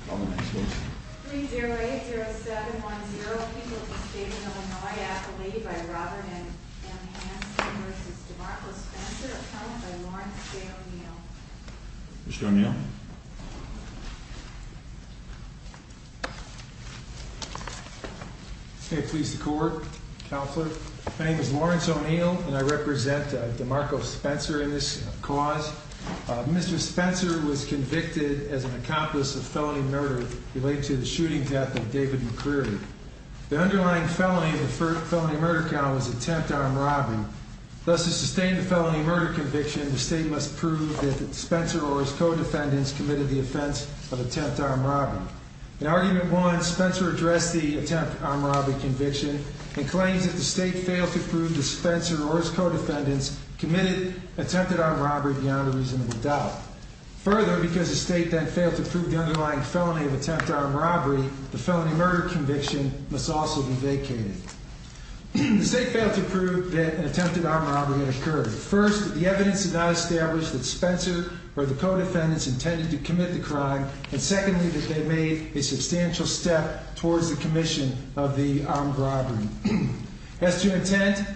080710 people of the state of Illinois accolade by Robert M. Hanson v. DeMarco Spencer, accounted by Lawrence J. O'Neill. Mr. O'Neill. May it please the Court, Counselor. My name is Lawrence O'Neill and I represent DeMarco Spencer in this cause. Mr. Spencer was convicted as an accomplice of felony murder related to the shooting death of David McCreary. The underlying felony of the felony murder count was attempt armed robbing. Thus, to sustain the felony murder conviction, the state must prove that Spencer or his co-defendants committed the offense of attempt armed robbing. In argument one, Spencer addressed the attempt armed robbery conviction and claims that the state failed to prove that Spencer or his co-defendants committed attempted armed robbery beyond a reasonable doubt. Further, because the state then failed to prove the underlying felony of attempt armed robbery, the felony murder conviction must also be vacated. The state failed to prove that an attempted armed robbery had occurred. First, the evidence did not establish that Spencer or the co-defendants intended to commit the crime. And secondly, that they made a substantial step towards the commission of the armed robbery. As to intent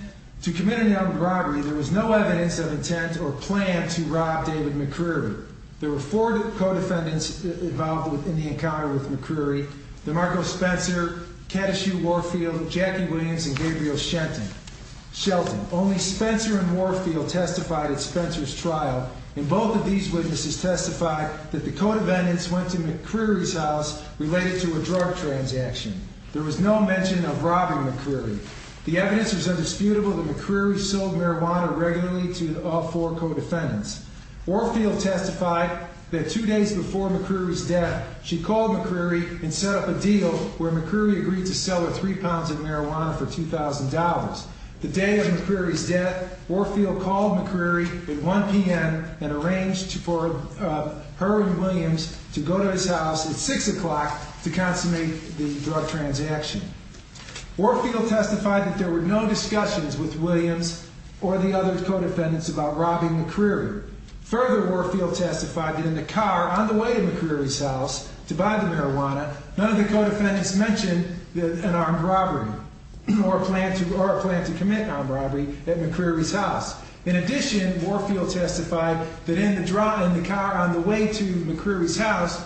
to commit an armed robbery, there was no evidence of intent or plan to rob David McCreary. There were four co-defendants involved in the encounter with McCreary. DeMarco Spencer, Katishu Warfield, Jackie Williams, and Gabriel Shelton. Only Spencer and Warfield testified at Spencer's trial. And both of these witnesses testified that the co-defendants went to McCreary's house related to a drug transaction. There was no mention of robbing McCreary. The evidence was indisputable that McCreary sold marijuana regularly to all four co-defendants. Warfield testified that two days before McCreary's death, she called McCreary and set up a deal where McCreary agreed to sell her three pounds of marijuana for $2,000. The day of McCreary's death, Warfield called McCreary at 1 p.m. and arranged for her and Williams to go to his house at 6 o'clock to consummate the drug transaction. Warfield testified that there were no discussions with Williams or the other co-defendants about robbing McCreary. Further, Warfield testified that in the car on the way to McCreary's house to buy the marijuana, none of the co-defendants mentioned an armed robbery. Or a plan to commit an armed robbery at McCreary's house. In addition, Warfield testified that in the car on the way to McCreary's house,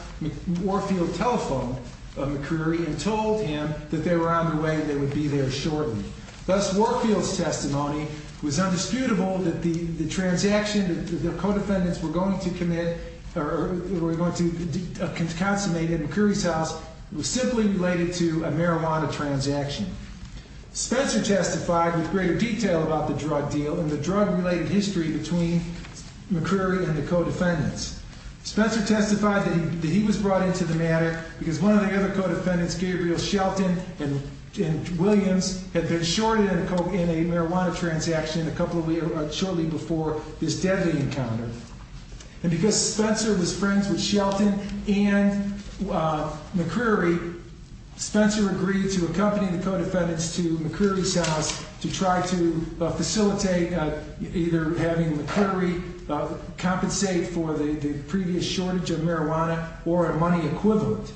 Warfield telephoned McCreary and told him that they were on the way and they would be there shortly. Thus, Warfield's testimony was undisputable that the transaction that the co-defendants were going to consummate at McCreary's house was simply related to a marijuana transaction. Spencer testified with greater detail about the drug deal and the drug-related history between McCreary and the co-defendants. Spencer testified that he was brought into the matter because one of the other co-defendants, Gabriel Shelton and Williams, had been shorted in a marijuana transaction shortly before this deadly encounter. And because Spencer was friends with Shelton and McCreary, Spencer agreed to accompany the co-defendants to McCreary's house to try to facilitate either having McCreary compensate for the previous shortage of marijuana or a money equivalent.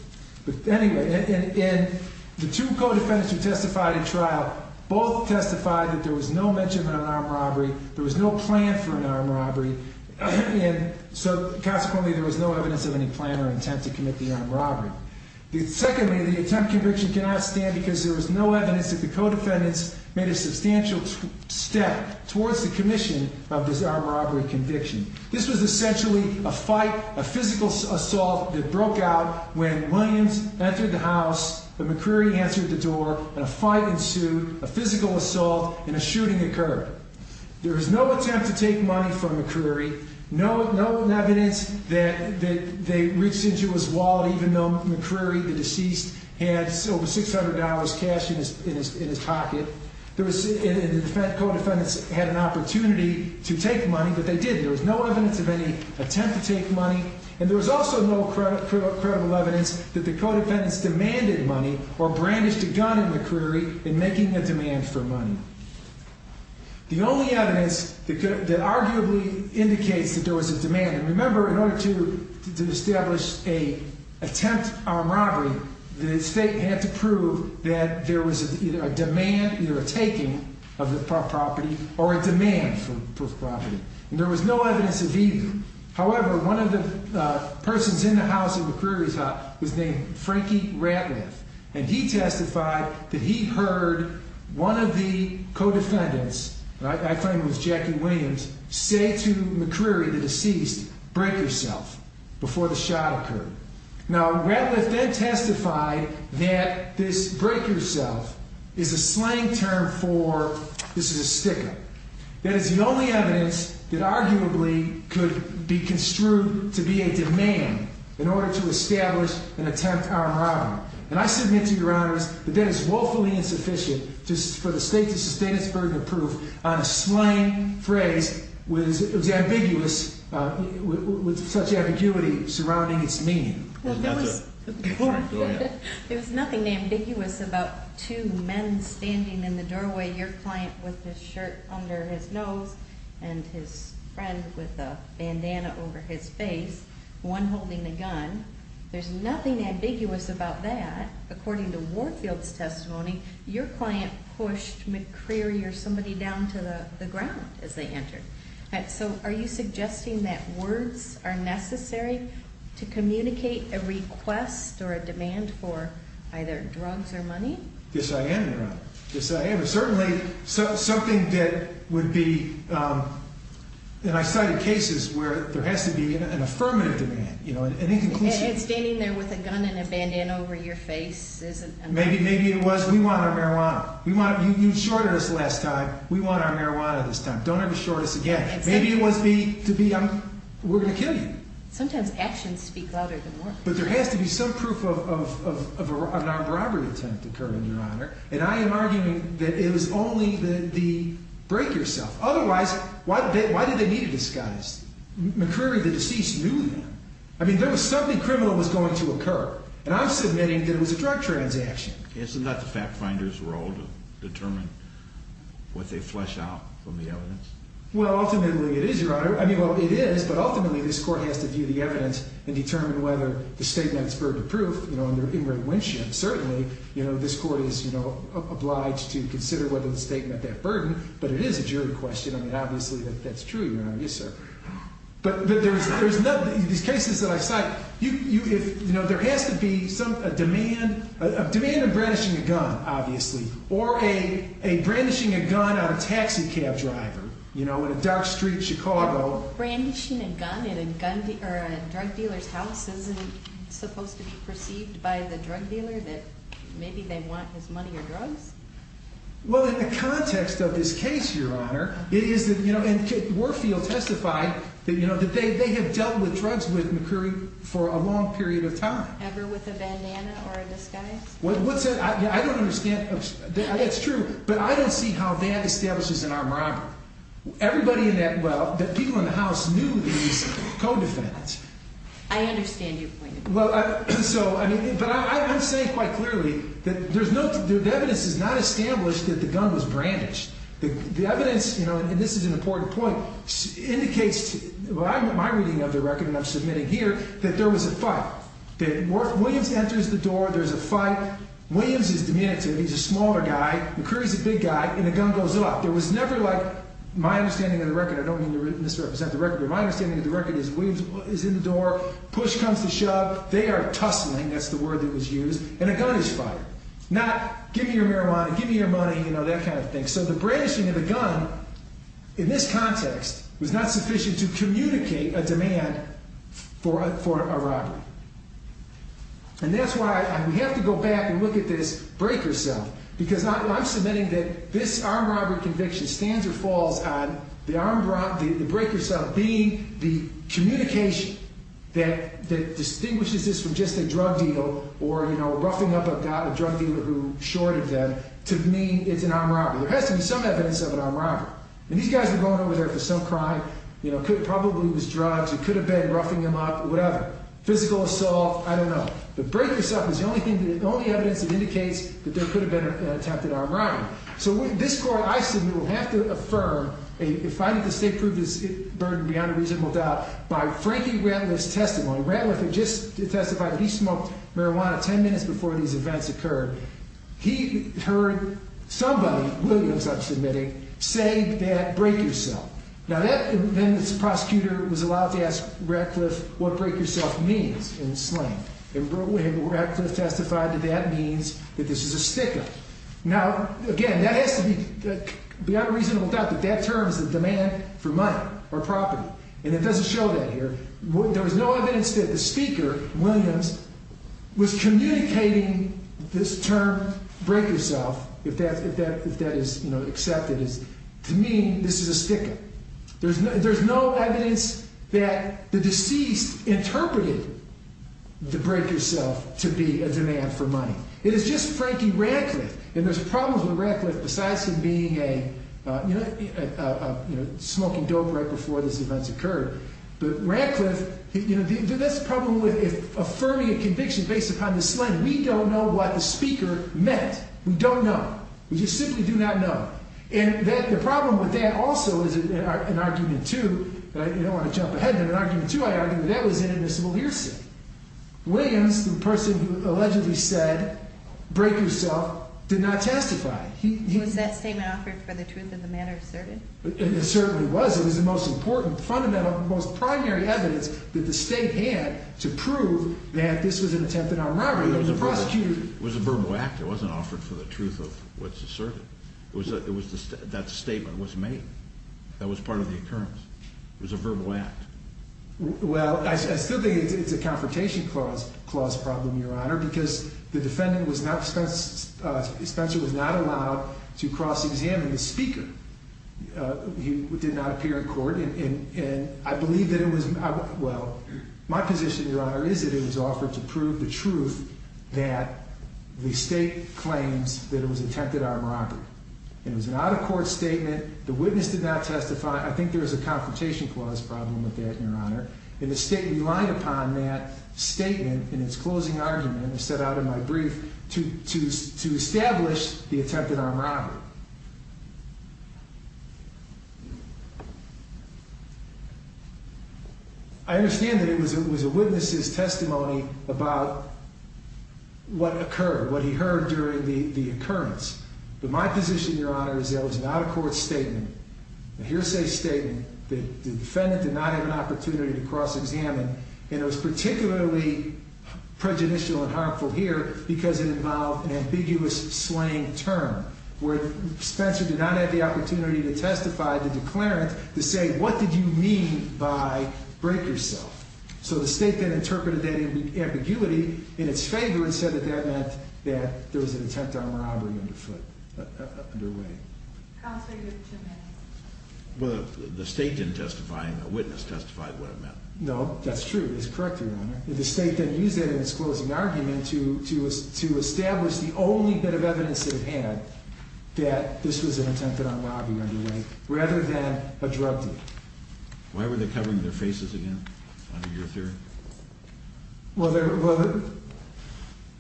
The two co-defendants who testified in trial both testified that there was no mention of an armed robbery, there was no plan for an armed robbery, and so consequently there was no evidence of any plan or intent to commit the armed robbery. Secondly, the attempt conviction cannot stand because there was no evidence that the co-defendants made a substantial step towards the commission of this armed robbery conviction. This was essentially a fight, a physical assault that broke out when Williams entered the house, McCreary answered the door, a fight ensued, a physical assault, and a shooting occurred. There was no attempt to take money from McCreary, no evidence that they reached into his wallet, even though McCreary, the deceased, had over $600 cash in his pocket. And the co-defendants had an opportunity to take money, but they didn't. There was no evidence of any attempt to take money, and there was also no credible evidence that the co-defendants demanded money or brandished a gun at McCreary in making a demand for money. The only evidence that arguably indicates that there was a demand, and remember, in order to establish an attempt armed robbery, the state had to prove that there was either a demand, either a taking of the property, or a demand for the property. And there was no evidence of either. However, one of the persons in the house at McCreary's house was named Frankie Ratliff, and he testified that he heard one of the co-defendants, I claim it was Jackie Williams, say to McCreary, the deceased, break yourself before the shot occurred. Now, Ratliff then testified that this break yourself is a slang term for, this is a sticker. That is the only evidence that arguably could be construed to be a demand in order to establish an attempt armed robbery. And I submit to your honors that that is woefully insufficient for the state to sustain its burden of proof on a slang phrase with such ambiguity surrounding its meaning. Go ahead. It was nothing ambiguous about two men standing in the doorway, your client with his shirt under his nose and his friend with a bandana over his face, one holding a gun. There's nothing ambiguous about that. According to Warfield's testimony, your client pushed McCreary or somebody down to the ground as they entered. All right, so are you suggesting that words are necessary to communicate a request or a demand for either drugs or money? Yes, I am, your honor. Yes, I am. It's certainly something that would be, and I cited cases where there has to be an affirmative demand, you know, an inconclusive- And standing there with a gun and a bandana over your face isn't- Maybe it was, we want our marijuana. You shorted us last time, we want our marijuana this time. Don't ever short us again. Maybe it was to be, we're going to kill you. Sometimes actions speak louder than words. But there has to be some proof of a non-robbery attempt occurred, your honor, and I am arguing that it was only the break yourself. Otherwise, why did they need a disguise? McCreary, the deceased, knew them. I mean, there was something criminal was going to occur, and I'm submitting that it was a drug transaction. Isn't that the fact finder's role to determine what they flesh out from the evidence? Well, ultimately it is, your honor. I mean, well, it is, but ultimately this court has to view the evidence and determine whether the statement is verdict proof, you know, under Ingrid Winship. Certainly, you know, this court is, you know, obliged to consider whether the statement met that burden, but it is a jury question. I mean, obviously, that's true, your honor. Yes, sir. But there's nothing, these cases that I cite, you know, there has to be a demand, a demand of brandishing a gun, obviously, or a brandishing a gun on a taxi cab driver, you know, in a dark street Chicago. Brandishing a gun in a drug dealer's house isn't supposed to be perceived by the drug dealer that maybe they want his money or drugs? Well, in the context of this case, your honor, it is that, you know, and Kit Warfield testified that, you know, that they have dealt with drugs with McCurry for a long period of time. Ever with a bandana or a disguise? What's that? I don't understand. That's true, but I don't see how that establishes an armed robbery. Everybody in that, well, the people in the house knew these co-defendants. I understand your point. Well, so, I mean, but I'm saying quite clearly that there's no, the evidence is not established that the gun was brandished. The evidence, you know, and this is an important point, indicates to my reading of the record, and I'm submitting here, that there was a fight. That Williams enters the door, there's a fight, Williams is diminutive, he's a smaller guy, McCurry's a big guy, and the gun goes up. There was never, like, my understanding of the record, I don't mean to misrepresent the record, but my understanding of the record is Williams is in the door, push comes to shove, they are tussling, that's the word that was used, and a gun is fired. Not, give me your marijuana, give me your money, you know, that kind of thing. So the brandishing of the gun, in this context, was not sufficient to communicate a demand for a robbery. And that's why, and we have to go back and look at this breaker cell, because I'm submitting that this armed robbery conviction, stands or falls on the breaker cell being the communication that distinguishes this from just a drug deal, or, you know, roughing up a guy, a drug dealer who shorted them, to mean it's an armed robbery. There has to be some evidence of an armed robbery. And these guys were going over there for some crime, you know, it probably was drugs, it could have been roughing them up, whatever. Physical assault, I don't know. The breaker cell is the only evidence that indicates that there could have been an attempted armed robbery. So this court, I submit, will have to affirm, if I need to state proof of this burden beyond a reasonable doubt, by Frankie Rantliff's testimony. Rantliff had just testified that he smoked marijuana ten minutes before these events occurred. He heard somebody, Williams, I'm submitting, say that breaker cell. Now that, then the prosecutor was allowed to ask Rantliff what breaker cell means in slang. And Rantliff testified that that means that this is a sticker. Now, again, that has to be, beyond a reasonable doubt, that that term is a demand for money or property. And it doesn't show that here. There was no evidence that the speaker, Williams, was communicating this term, breaker cell, if that is, you know, accepted. To me, this is a sticker. There's no evidence that the deceased interpreted the breaker cell to be a demand for money. It is just Frankie Rantliff. And there's problems with Rantliff besides him being a, you know, smoking dope right before these events occurred. But Rantliff, you know, that's the problem with affirming a conviction based upon the slang. We don't know what the speaker meant. We don't know. We just simply do not know. And that, the problem with that also is an argument, too. You don't want to jump ahead, but an argument, too, I argue, that that was inadmissible hearsay. Williams, the person who allegedly said breaker cell, did not testify. Was that statement offered for the truth of the matter asserted? It certainly was. It was the most important, fundamental, most primary evidence that the state had to prove that this was an attempted armed robbery. It was prosecuted. It was a verbal act. It wasn't offered for the truth of what's asserted. That statement was made. That was part of the occurrence. It was a verbal act. Well, I still think it's a confrontation clause problem, Your Honor, because the defendant was not, Spencer was not allowed to cross-examine the speaker. He did not appear in court. And I believe that it was, well, my position, Your Honor, is that it was offered to prove the truth that the state claims that it was an attempted armed robbery. It was an out-of-court statement. The witness did not testify. I think there was a confrontation clause problem with that, Your Honor. And the state relied upon that statement in its closing argument, as set out in my brief, to establish the attempted armed robbery. I understand that it was a witness's testimony about what occurred, what he heard during the occurrence. But my position, Your Honor, is that it was an out-of-court statement, a hearsay statement, that the defendant did not have an opportunity to cross-examine. And it was particularly prejudicial and harmful here because it involved an ambiguous slang term, where Spencer did not have the opportunity to testify, to declare it, to say, what did you mean by break yourself? So the state then interpreted that ambiguity in its favor and said that that meant that there was an attempted armed robbery underway. Counsel, you have two minutes. Well, the state didn't testify. A witness testified what it meant. No, that's true. It's correct, Your Honor. The state then used that in its closing argument to establish the only bit of evidence it had that this was an attempted armed robbery underway, rather than a drug deal. Why were they covering their faces again, under your theory? Well,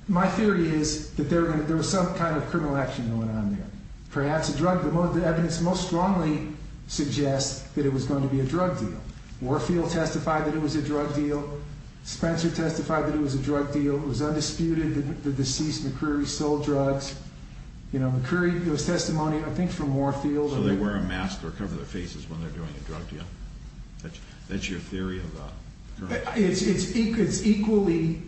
my theory is that there was some kind of criminal action that went on there. Perhaps the evidence most strongly suggests that it was going to be a drug deal. Warfield testified that it was a drug deal. Spencer testified that it was a drug deal. It was undisputed that the deceased, McCreary, sold drugs. You know, McCreary, it was testimony, I think, from Warfield. So they wear a mask to cover their faces when they're doing a drug deal? That's your theory? It's equally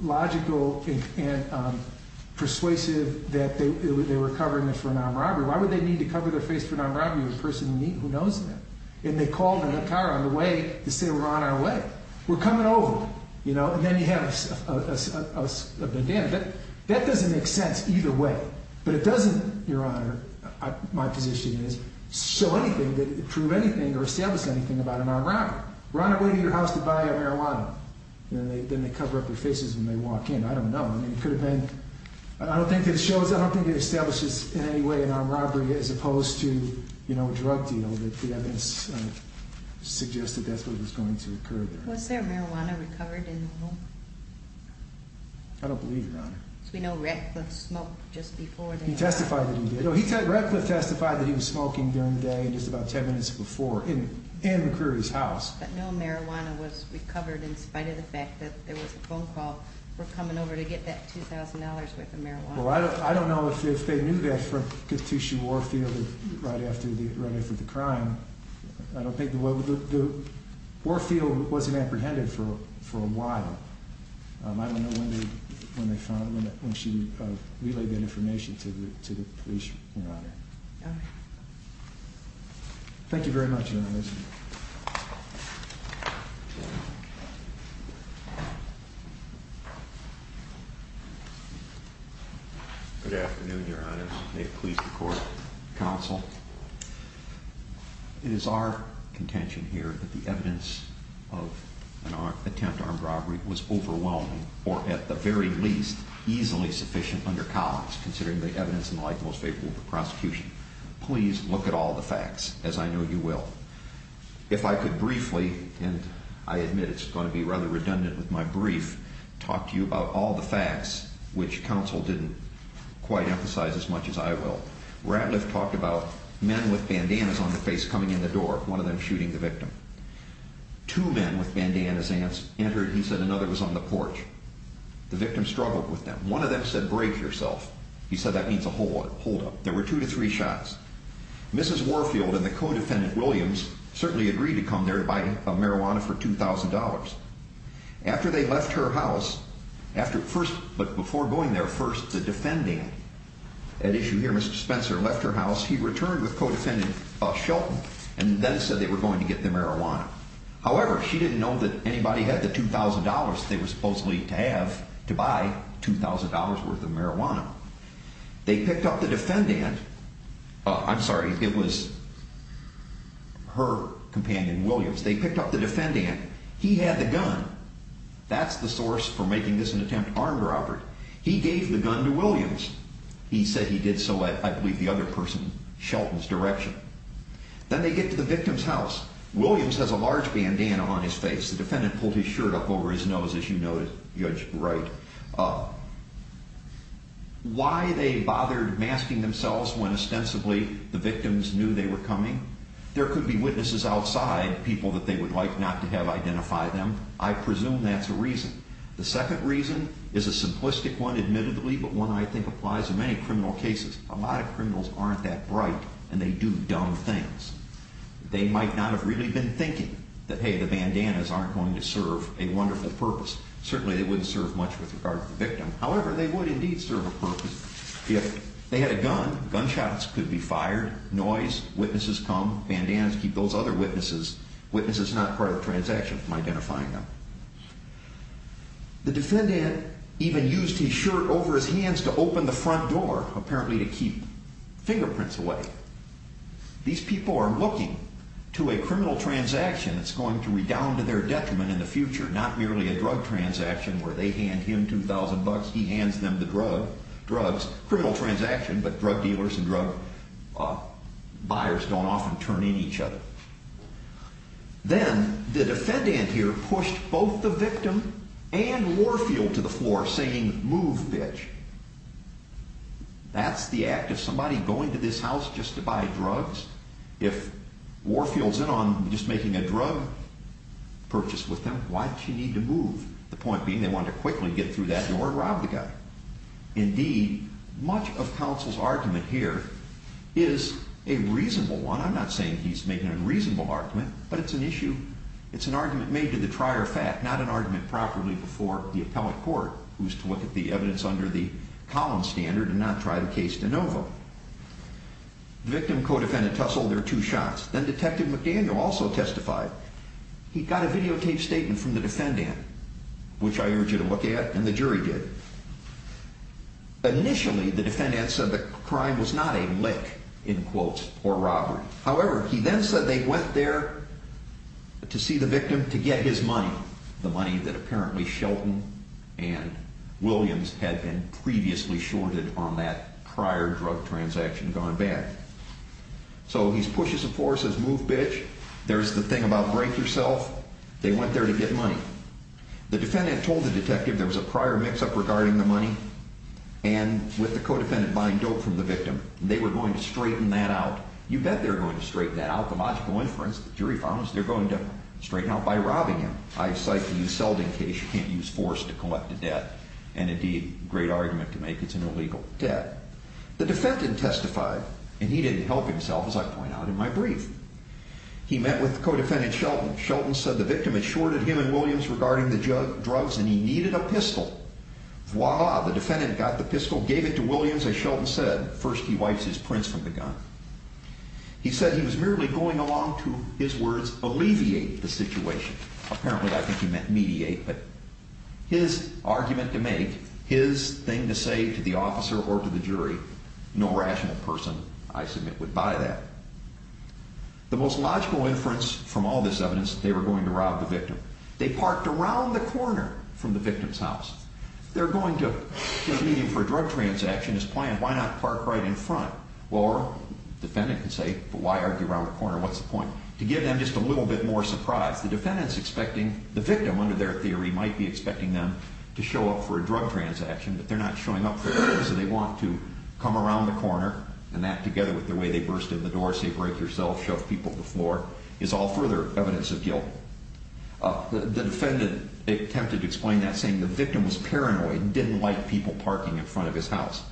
logical and persuasive that they were covering it for an armed robbery. Why would they need to cover their face for an armed robbery with a person who knows them? And they called in a car on the way to say we're on our way. We're coming over, you know, and then you have a bandana. That doesn't make sense either way. But it doesn't, Your Honor, my position is, show anything that would prove anything or establish anything about an armed robbery. We're on our way to your house to buy our marijuana. Then they cover up their faces when they walk in. I don't know. I mean, it could have been. I don't think it shows. I don't think it establishes in any way an armed robbery as opposed to, you know, a drug deal. The evidence suggests that that's what was going to occur there. Was there marijuana recovered in the home? I don't believe, Your Honor. We know Ratcliffe smoked just before. He testified that he did. Ratcliffe testified that he was smoking during the day just about ten minutes before in McCreary's house. But no marijuana was recovered in spite of the fact that there was a phone call for coming over to get that $2,000 worth of marijuana. Well, I don't know if they knew that from Catechia Warfield right after the crime. I don't think the Warfield wasn't apprehended for a while. I don't know when they found it, when she relayed that information to the police, Your Honor. Okay. Thank you very much, Your Honor. Good afternoon, Your Honors. May it please the Court, Counsel. It is our contention here that the evidence of an attempted armed robbery was overwhelming or, at the very least, easily sufficient under Collins, considering the evidence and the like most favorable for prosecution. Please look at all the facts, as I know you will. If I could briefly, and I admit it's going to be rather redundant with my brief, talk to you about all the facts, which Counsel didn't quite emphasize as much as I will. Ratliff talked about men with bandanas on their face coming in the door, one of them shooting the victim. Two men with bandanas entered. He said another was on the porch. The victim struggled with them. One of them said, Break yourself. He said, That means a holdup. There were two to three shots. Mrs. Warfield and the co-defendant, Williams, certainly agreed to come there to buy marijuana for $2,000. After they left her house, but before going there first, the defendant, as you hear Mr. Spencer, left her house. He returned with co-defendant Shelton and then said they were going to get the marijuana. However, she didn't know that anybody had the $2,000 they were supposedly to have to buy $2,000 worth of marijuana. They picked up the defendant. I'm sorry, it was her companion, Williams. They picked up the defendant. He had the gun. That's the source for making this an attempt armed robbery. He gave the gun to Williams. He said he did so, I believe, the other person, Shelton's direction. Then they get to the victim's house. Williams has a large bandana on his face. The defendant pulled his shirt up over his nose, as you know, Judge Wright. Why they bothered masking themselves when ostensibly the victims knew they were coming, there could be witnesses outside, people that they would like not to have identify them. I presume that's a reason. The second reason is a simplistic one, admittedly, but one I think applies in many criminal cases. A lot of criminals aren't that bright, and they do dumb things. They might not have really been thinking that, hey, the bandanas aren't going to serve a wonderful purpose. Certainly they wouldn't serve much with regard to the victim. However, they would indeed serve a purpose. If they had a gun, gunshots could be fired, noise, witnesses come, bandanas keep those other witnesses. Witnesses are not part of the transaction from identifying them. The defendant even used his shirt over his hands to open the front door, apparently to keep fingerprints away. These people are looking to a criminal transaction that's going to redound to their detriment in the future, not merely a drug transaction where they hand him $2,000, he hands them the drugs. Criminal transaction, but drug dealers and drug buyers don't often turn in each other. Then the defendant here pushed both the victim and Warfield to the floor saying, move, bitch. That's the act of somebody going to this house just to buy drugs. If Warfield's in on just making a drug purchase with them, why'd she need to move? The point being they wanted to quickly get through that door and rob the guy. Indeed, much of counsel's argument here is a reasonable one. I'm not saying he's making an unreasonable argument, but it's an issue. It's an argument made to the trier of fact, not an argument properly before the appellate court, who's to look at the evidence under the Collins standard and not try the case de novo. The victim co-defendant tussled their two shots. Then Detective McDaniel also testified. He got a videotaped statement from the defendant, which I urge you to look at, and the jury did. Initially, the defendant said the crime was not a lick, in quotes, or robbery. However, he then said they went there to see the victim to get his money, the money that apparently Shelton and Williams had been previously shorted on that prior drug transaction gone bad. So he pushes the floor, says, move, bitch. There's the thing about break yourself. They went there to get money. The defendant told the detective there was a prior mix-up regarding the money and with the co-defendant buying dope from the victim. They were going to straighten that out. You bet they're going to straighten that out. The logical inference, the jury found, is they're going to straighten out by robbing him. I cite the Euseldin case. You can't use force to collect a debt, and indeed, great argument to make. It's an illegal debt. The defendant testified, and he didn't help himself, as I point out in my brief. He met with co-defendant Shelton. Shelton said the victim had shorted him and Williams regarding the drugs, and he needed a pistol. Voila, the defendant got the pistol, gave it to Williams, as Shelton said. First, he wipes his prints from the gun. He said he was merely going along to, his words, alleviate the situation. Apparently, I think he meant mediate, but his argument to make, his thing to say to the officer or to the jury, no rational person, I submit, would buy that. The most logical inference from all this evidence, they were going to rob the victim. They parked around the corner from the victim's house. They're going to convene him for a drug transaction as planned. Why not park right in front? Well, the defendant can say, but why argue around the corner? What's the point? To give them just a little bit more surprise. The defendant's expecting, the victim, under their theory, might be expecting them to show up for a drug transaction, but they're not showing up for drugs, so they want to come around the corner, and that, together with the way they burst in the door, say, break yourself, shove people to the floor, is all further evidence of guilt. The defendant attempted to explain that, saying the victim was paranoid and didn't like people parking in front of his house.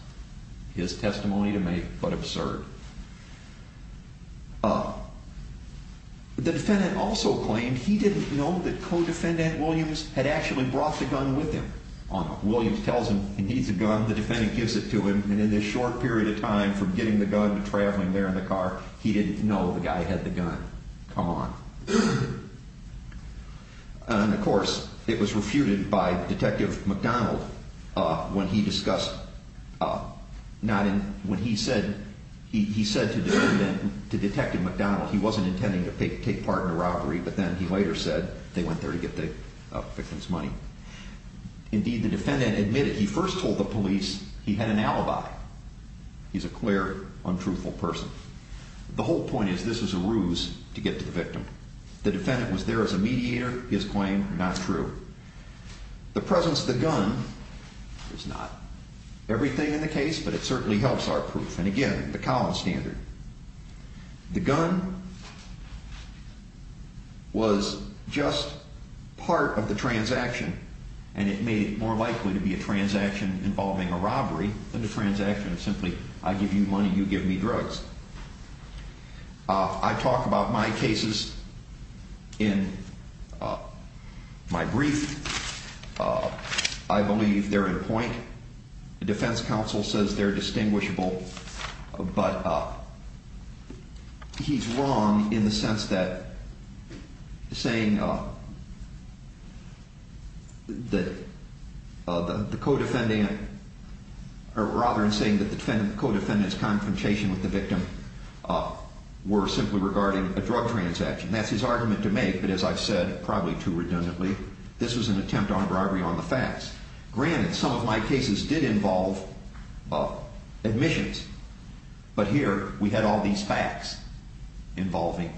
His testimony to make, but absurd. The defendant also claimed he didn't know that co-defendant Williams had actually brought the gun with him. Williams tells him he needs the gun, the defendant gives it to him, and in this short period of time, from getting the gun to traveling there in the car, he didn't know the guy had the gun. Come on. And, of course, it was refuted by Detective McDonald, when he said to Detective McDonald he wasn't intending to take part in the robbery, but then he later said they went there to get the victim's money. Indeed, the defendant admitted he first told the police he had an alibi. He's a clear, untruthful person. The whole point is this was a ruse to get to the victim. The defendant was there as a mediator. His claim, not true. The presence of the gun is not everything in the case, but it certainly helps our proof. And, again, the Collins standard. The gun was just part of the transaction, and it made it more likely to be a transaction involving a robbery than a transaction of simply, I give you money, you give me drugs. I talk about my cases in my brief. I believe they're in point. The defense counsel says they're distinguishable, but he's wrong in the sense that saying that the co-defendant, or rather in saying that the co-defendant's confrontation with the victim were simply regarding a drug transaction. That's his argument to make, but as I've said, probably too redundantly, this was an attempt on a robbery on the facts. Granted, some of my cases did involve admissions, but here we had all these facts involving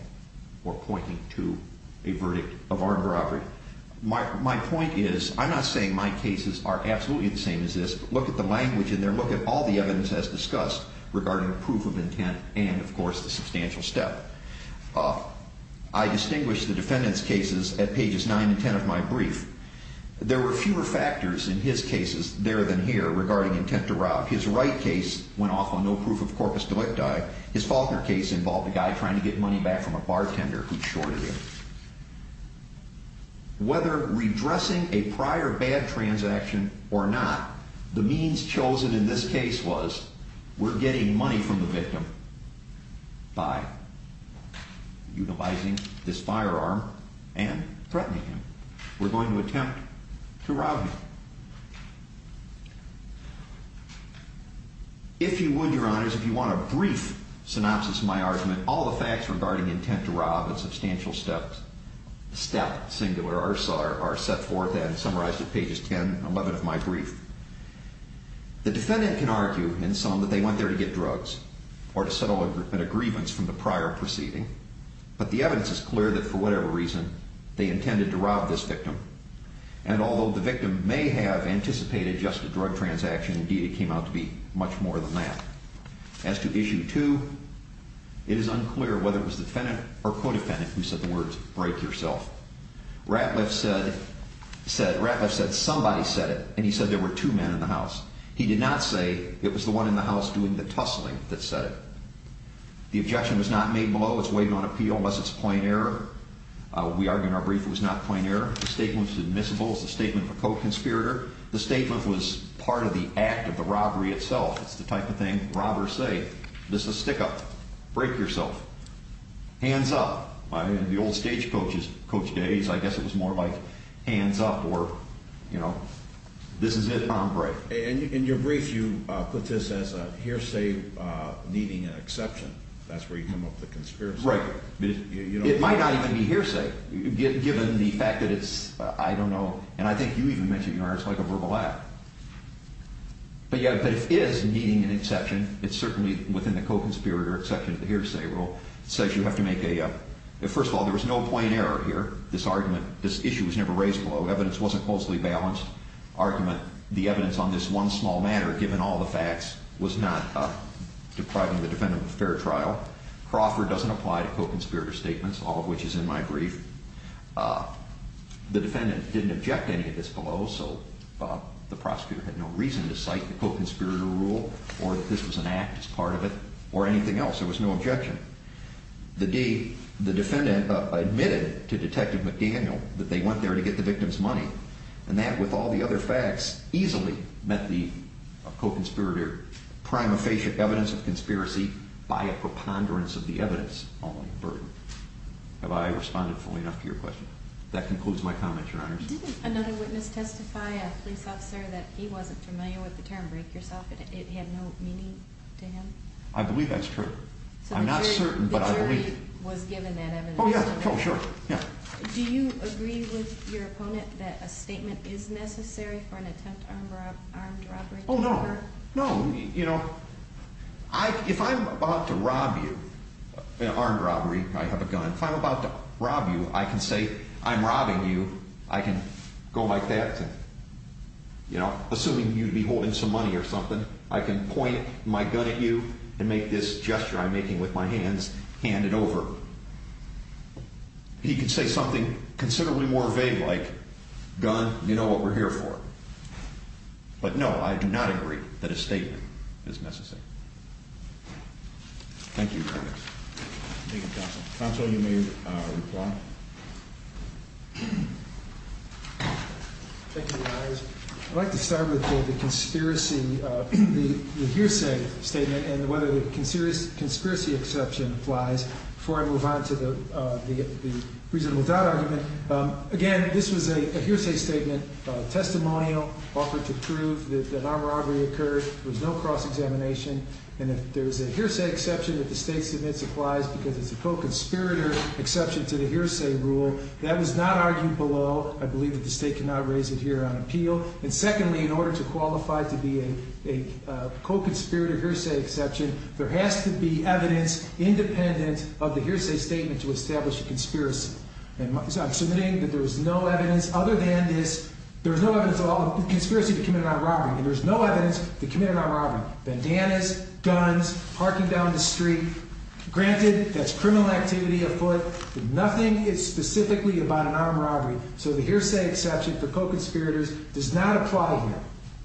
or pointing to a verdict of armed robbery. My point is I'm not saying my cases are absolutely the same as this. Look at the language in there. Look at all the evidence as discussed regarding proof of intent and, of course, the substantial step. I distinguish the defendant's cases at pages 9 and 10 of my brief. There were fewer factors in his cases there than here regarding intent to rob. His Wright case went off on no proof of corpus delicti. His Faulkner case involved a guy trying to get money back from a bartender who shorted him. Whether redressing a prior bad transaction or not, the means chosen in this case was we're getting money from the victim by utilizing this firearm and threatening him. We're going to attempt to rob him. If you would, Your Honors, if you want a brief synopsis of my argument, all the facts regarding intent to rob and substantial step, singular, are set forth and summarized at pages 10 and 11 of my brief. The defendant can argue in sum that they went there to get drugs or to settle an agreement from the prior proceeding, but the evidence is clear that for whatever reason they intended to rob this victim. And although the victim may have anticipated just a drug transaction, indeed, it came out to be much more than that. As to issue two, it is unclear whether it was the defendant or co-defendant who said the words break yourself. Ratliff said somebody said it, and he said there were two men in the house. He did not say it was the one in the house doing the tussling that said it. The objection was not made below its weight on appeal unless it's a point error. We argue in our brief it was not a point error. The statement was admissible. It's a statement of a co-conspirator. The statement was part of the act of the robbery itself. It's the type of thing robbers say. This is a stick-up. Break yourself. Hands up. In the old stagecoach days, I guess it was more like hands up or, you know, this is it, and I'll break. In your brief, you put this as a hearsay needing an exception. That's where you come up with the conspiracy. Right. It might not even be hearsay given the fact that it's, I don't know, and I think you even mentioned yours, like a verbal act. But it is needing an exception. It's certainly within the co-conspirator exception of the hearsay rule. It says you have to make a, first of all, there was no point error here. This argument, this issue was never raised below. Evidence wasn't closely balanced. Argument, the evidence on this one small matter, given all the facts, was not depriving the defendant of a fair trial. Crawford doesn't apply to co-conspirator statements, all of which is in my brief. The defendant didn't object to any of this below, so the prosecutor had no reason to cite the co-conspirator rule or that this was an act as part of it or anything else. There was no objection. The defendant admitted to Detective McDaniel that they went there to get the victim's money. And that, with all the other facts, easily met the co-conspirator prima facie evidence of conspiracy by a preponderance of the evidence, only a burden. Have I responded fully enough to your question? That concludes my comment, Your Honor. Didn't another witness testify, a police officer, that he wasn't familiar with the term break yourself? It had no meaning to him? I believe that's true. I'm not certain, but I believe it. So the jury was given that evidence? Oh, yeah. Oh, sure. Yeah. Do you agree with your opponent that a statement is necessary for an attempt armed robbery? Oh, no. No. You know, if I'm about to rob you in an armed robbery, I have a gun. If I'm about to rob you, I can say I'm robbing you. I can go like that, you know, assuming you'd be holding some money or something. I can point my gun at you and make this gesture I'm making with my hands, hand it over. He could say something considerably more vague like, gun, you know what we're here for. But, no, I do not agree that a statement is necessary. Thank you, Your Honor. Thank you, Counsel. Counsel, you may reply. Thank you, Your Honors. I'd like to start with the conspiracy, the hearsay statement, and whether the conspiracy exception applies before I move on to the reasonable doubt argument. Again, this was a hearsay statement, testimonial, offered to prove that an armed robbery occurred. There was no cross-examination. And if there's a hearsay exception that the State submits applies because it's a co-conspirator exception to the hearsay rule, that was not argued below. And secondly, in order to qualify to be a co-conspirator hearsay exception, there has to be evidence independent of the hearsay statement to establish a conspiracy. And I'm submitting that there's no evidence other than this, there's no evidence of a conspiracy to commit an armed robbery. And there's no evidence to commit an armed robbery. Bandanas, guns, parking down the street. Granted, that's criminal activity afoot. But nothing is specifically about an armed robbery. So the hearsay exception for co-conspirators does not apply here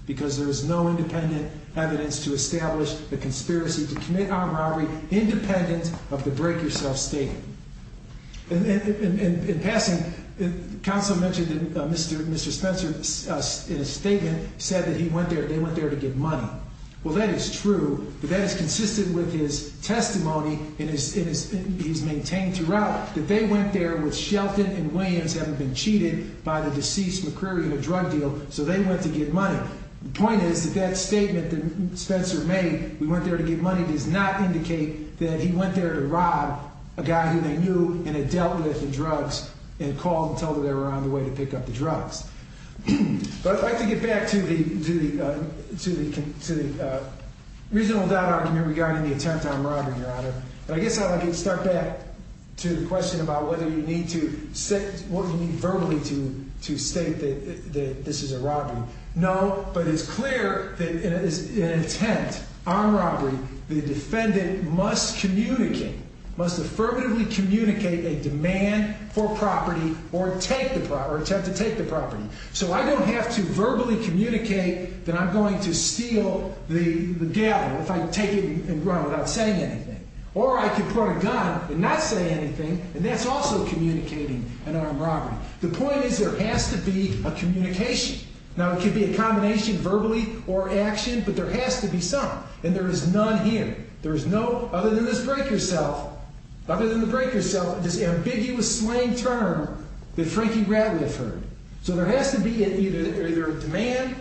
because there is no independent evidence to establish a conspiracy to commit armed robbery, independent of the break-yourself statement. In passing, counsel mentioned that Mr. Spencer, in his statement, said that he went there, they went there to get money. Well, that is true, but that is consistent with his testimony, and he's maintained throughout, that they went there with Shelton and Williams having been cheated by the deceased McCreary in a drug deal, so they went to get money. The point is that that statement that Spencer made, we went there to get money, does not indicate that he went there to rob a guy who they knew and had dealt with the drugs and called and told them they were on the way to pick up the drugs. But I'd like to get back to the reasonable doubt argument regarding the attempt on robbery, Your Honor. I guess I'd like to start back to the question about whether you need to verbally state that this is a robbery. No, but it's clear that in an attempt on robbery, the defendant must communicate, must affirmatively communicate a demand for property or attempt to take the property. So I don't have to verbally communicate that I'm going to steal the gavel if I take it and run without saying anything. Or I could point a gun and not say anything, and that's also communicating an armed robbery. The point is there has to be a communication. Now, it could be a combination verbally or action, but there has to be some, and there is none here. There is no other than this breaker's self, other than the breaker's self, this ambiguous slang term that Frankie Radcliffe heard. So there has to be either a demand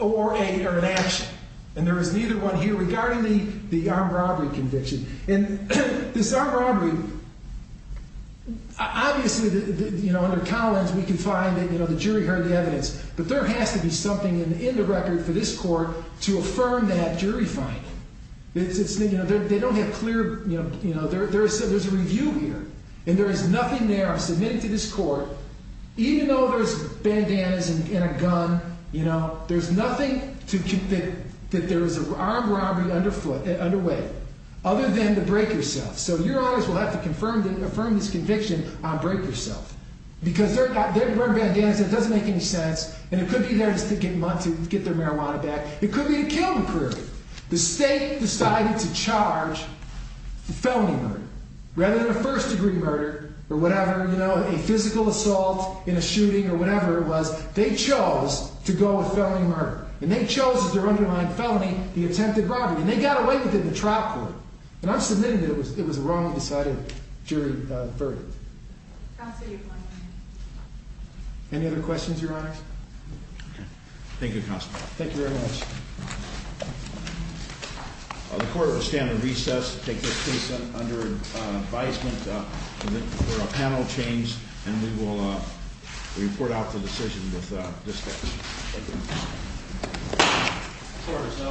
or an action, and there is neither one here regarding the armed robbery conviction. And this armed robbery, obviously, you know, under Collins, we can find that, you know, the jury heard the evidence. But there has to be something in the record for this court to affirm that jury finding. It's, you know, they don't have clear, you know, there's a review here, and there is nothing there. I'm submitting to this court, even though there's bandanas and a gun, you know, there's nothing that there is an armed robbery underway, other than the breaker's self. So your honors will have to affirm this conviction on breaker's self. Because they're wearing bandanas, and it doesn't make any sense, and it could be there just to get their marijuana back. It could be to kill them, clearly. The state decided to charge the felony murder. Rather than a first degree murder, or whatever, you know, a physical assault in a shooting, or whatever it was, they chose to go with felony murder. And they chose as their underlying felony, the attempted robbery. And they got away with it in the trial court. And I'm submitting it was a wrongly decided jury verdict. I'll see you. Any other questions, your honors? Thank you, counsel. Thank you very much. The court will stand at recess, take this case under advisement for a panel change, and we will report out the decision with this case. Thank you.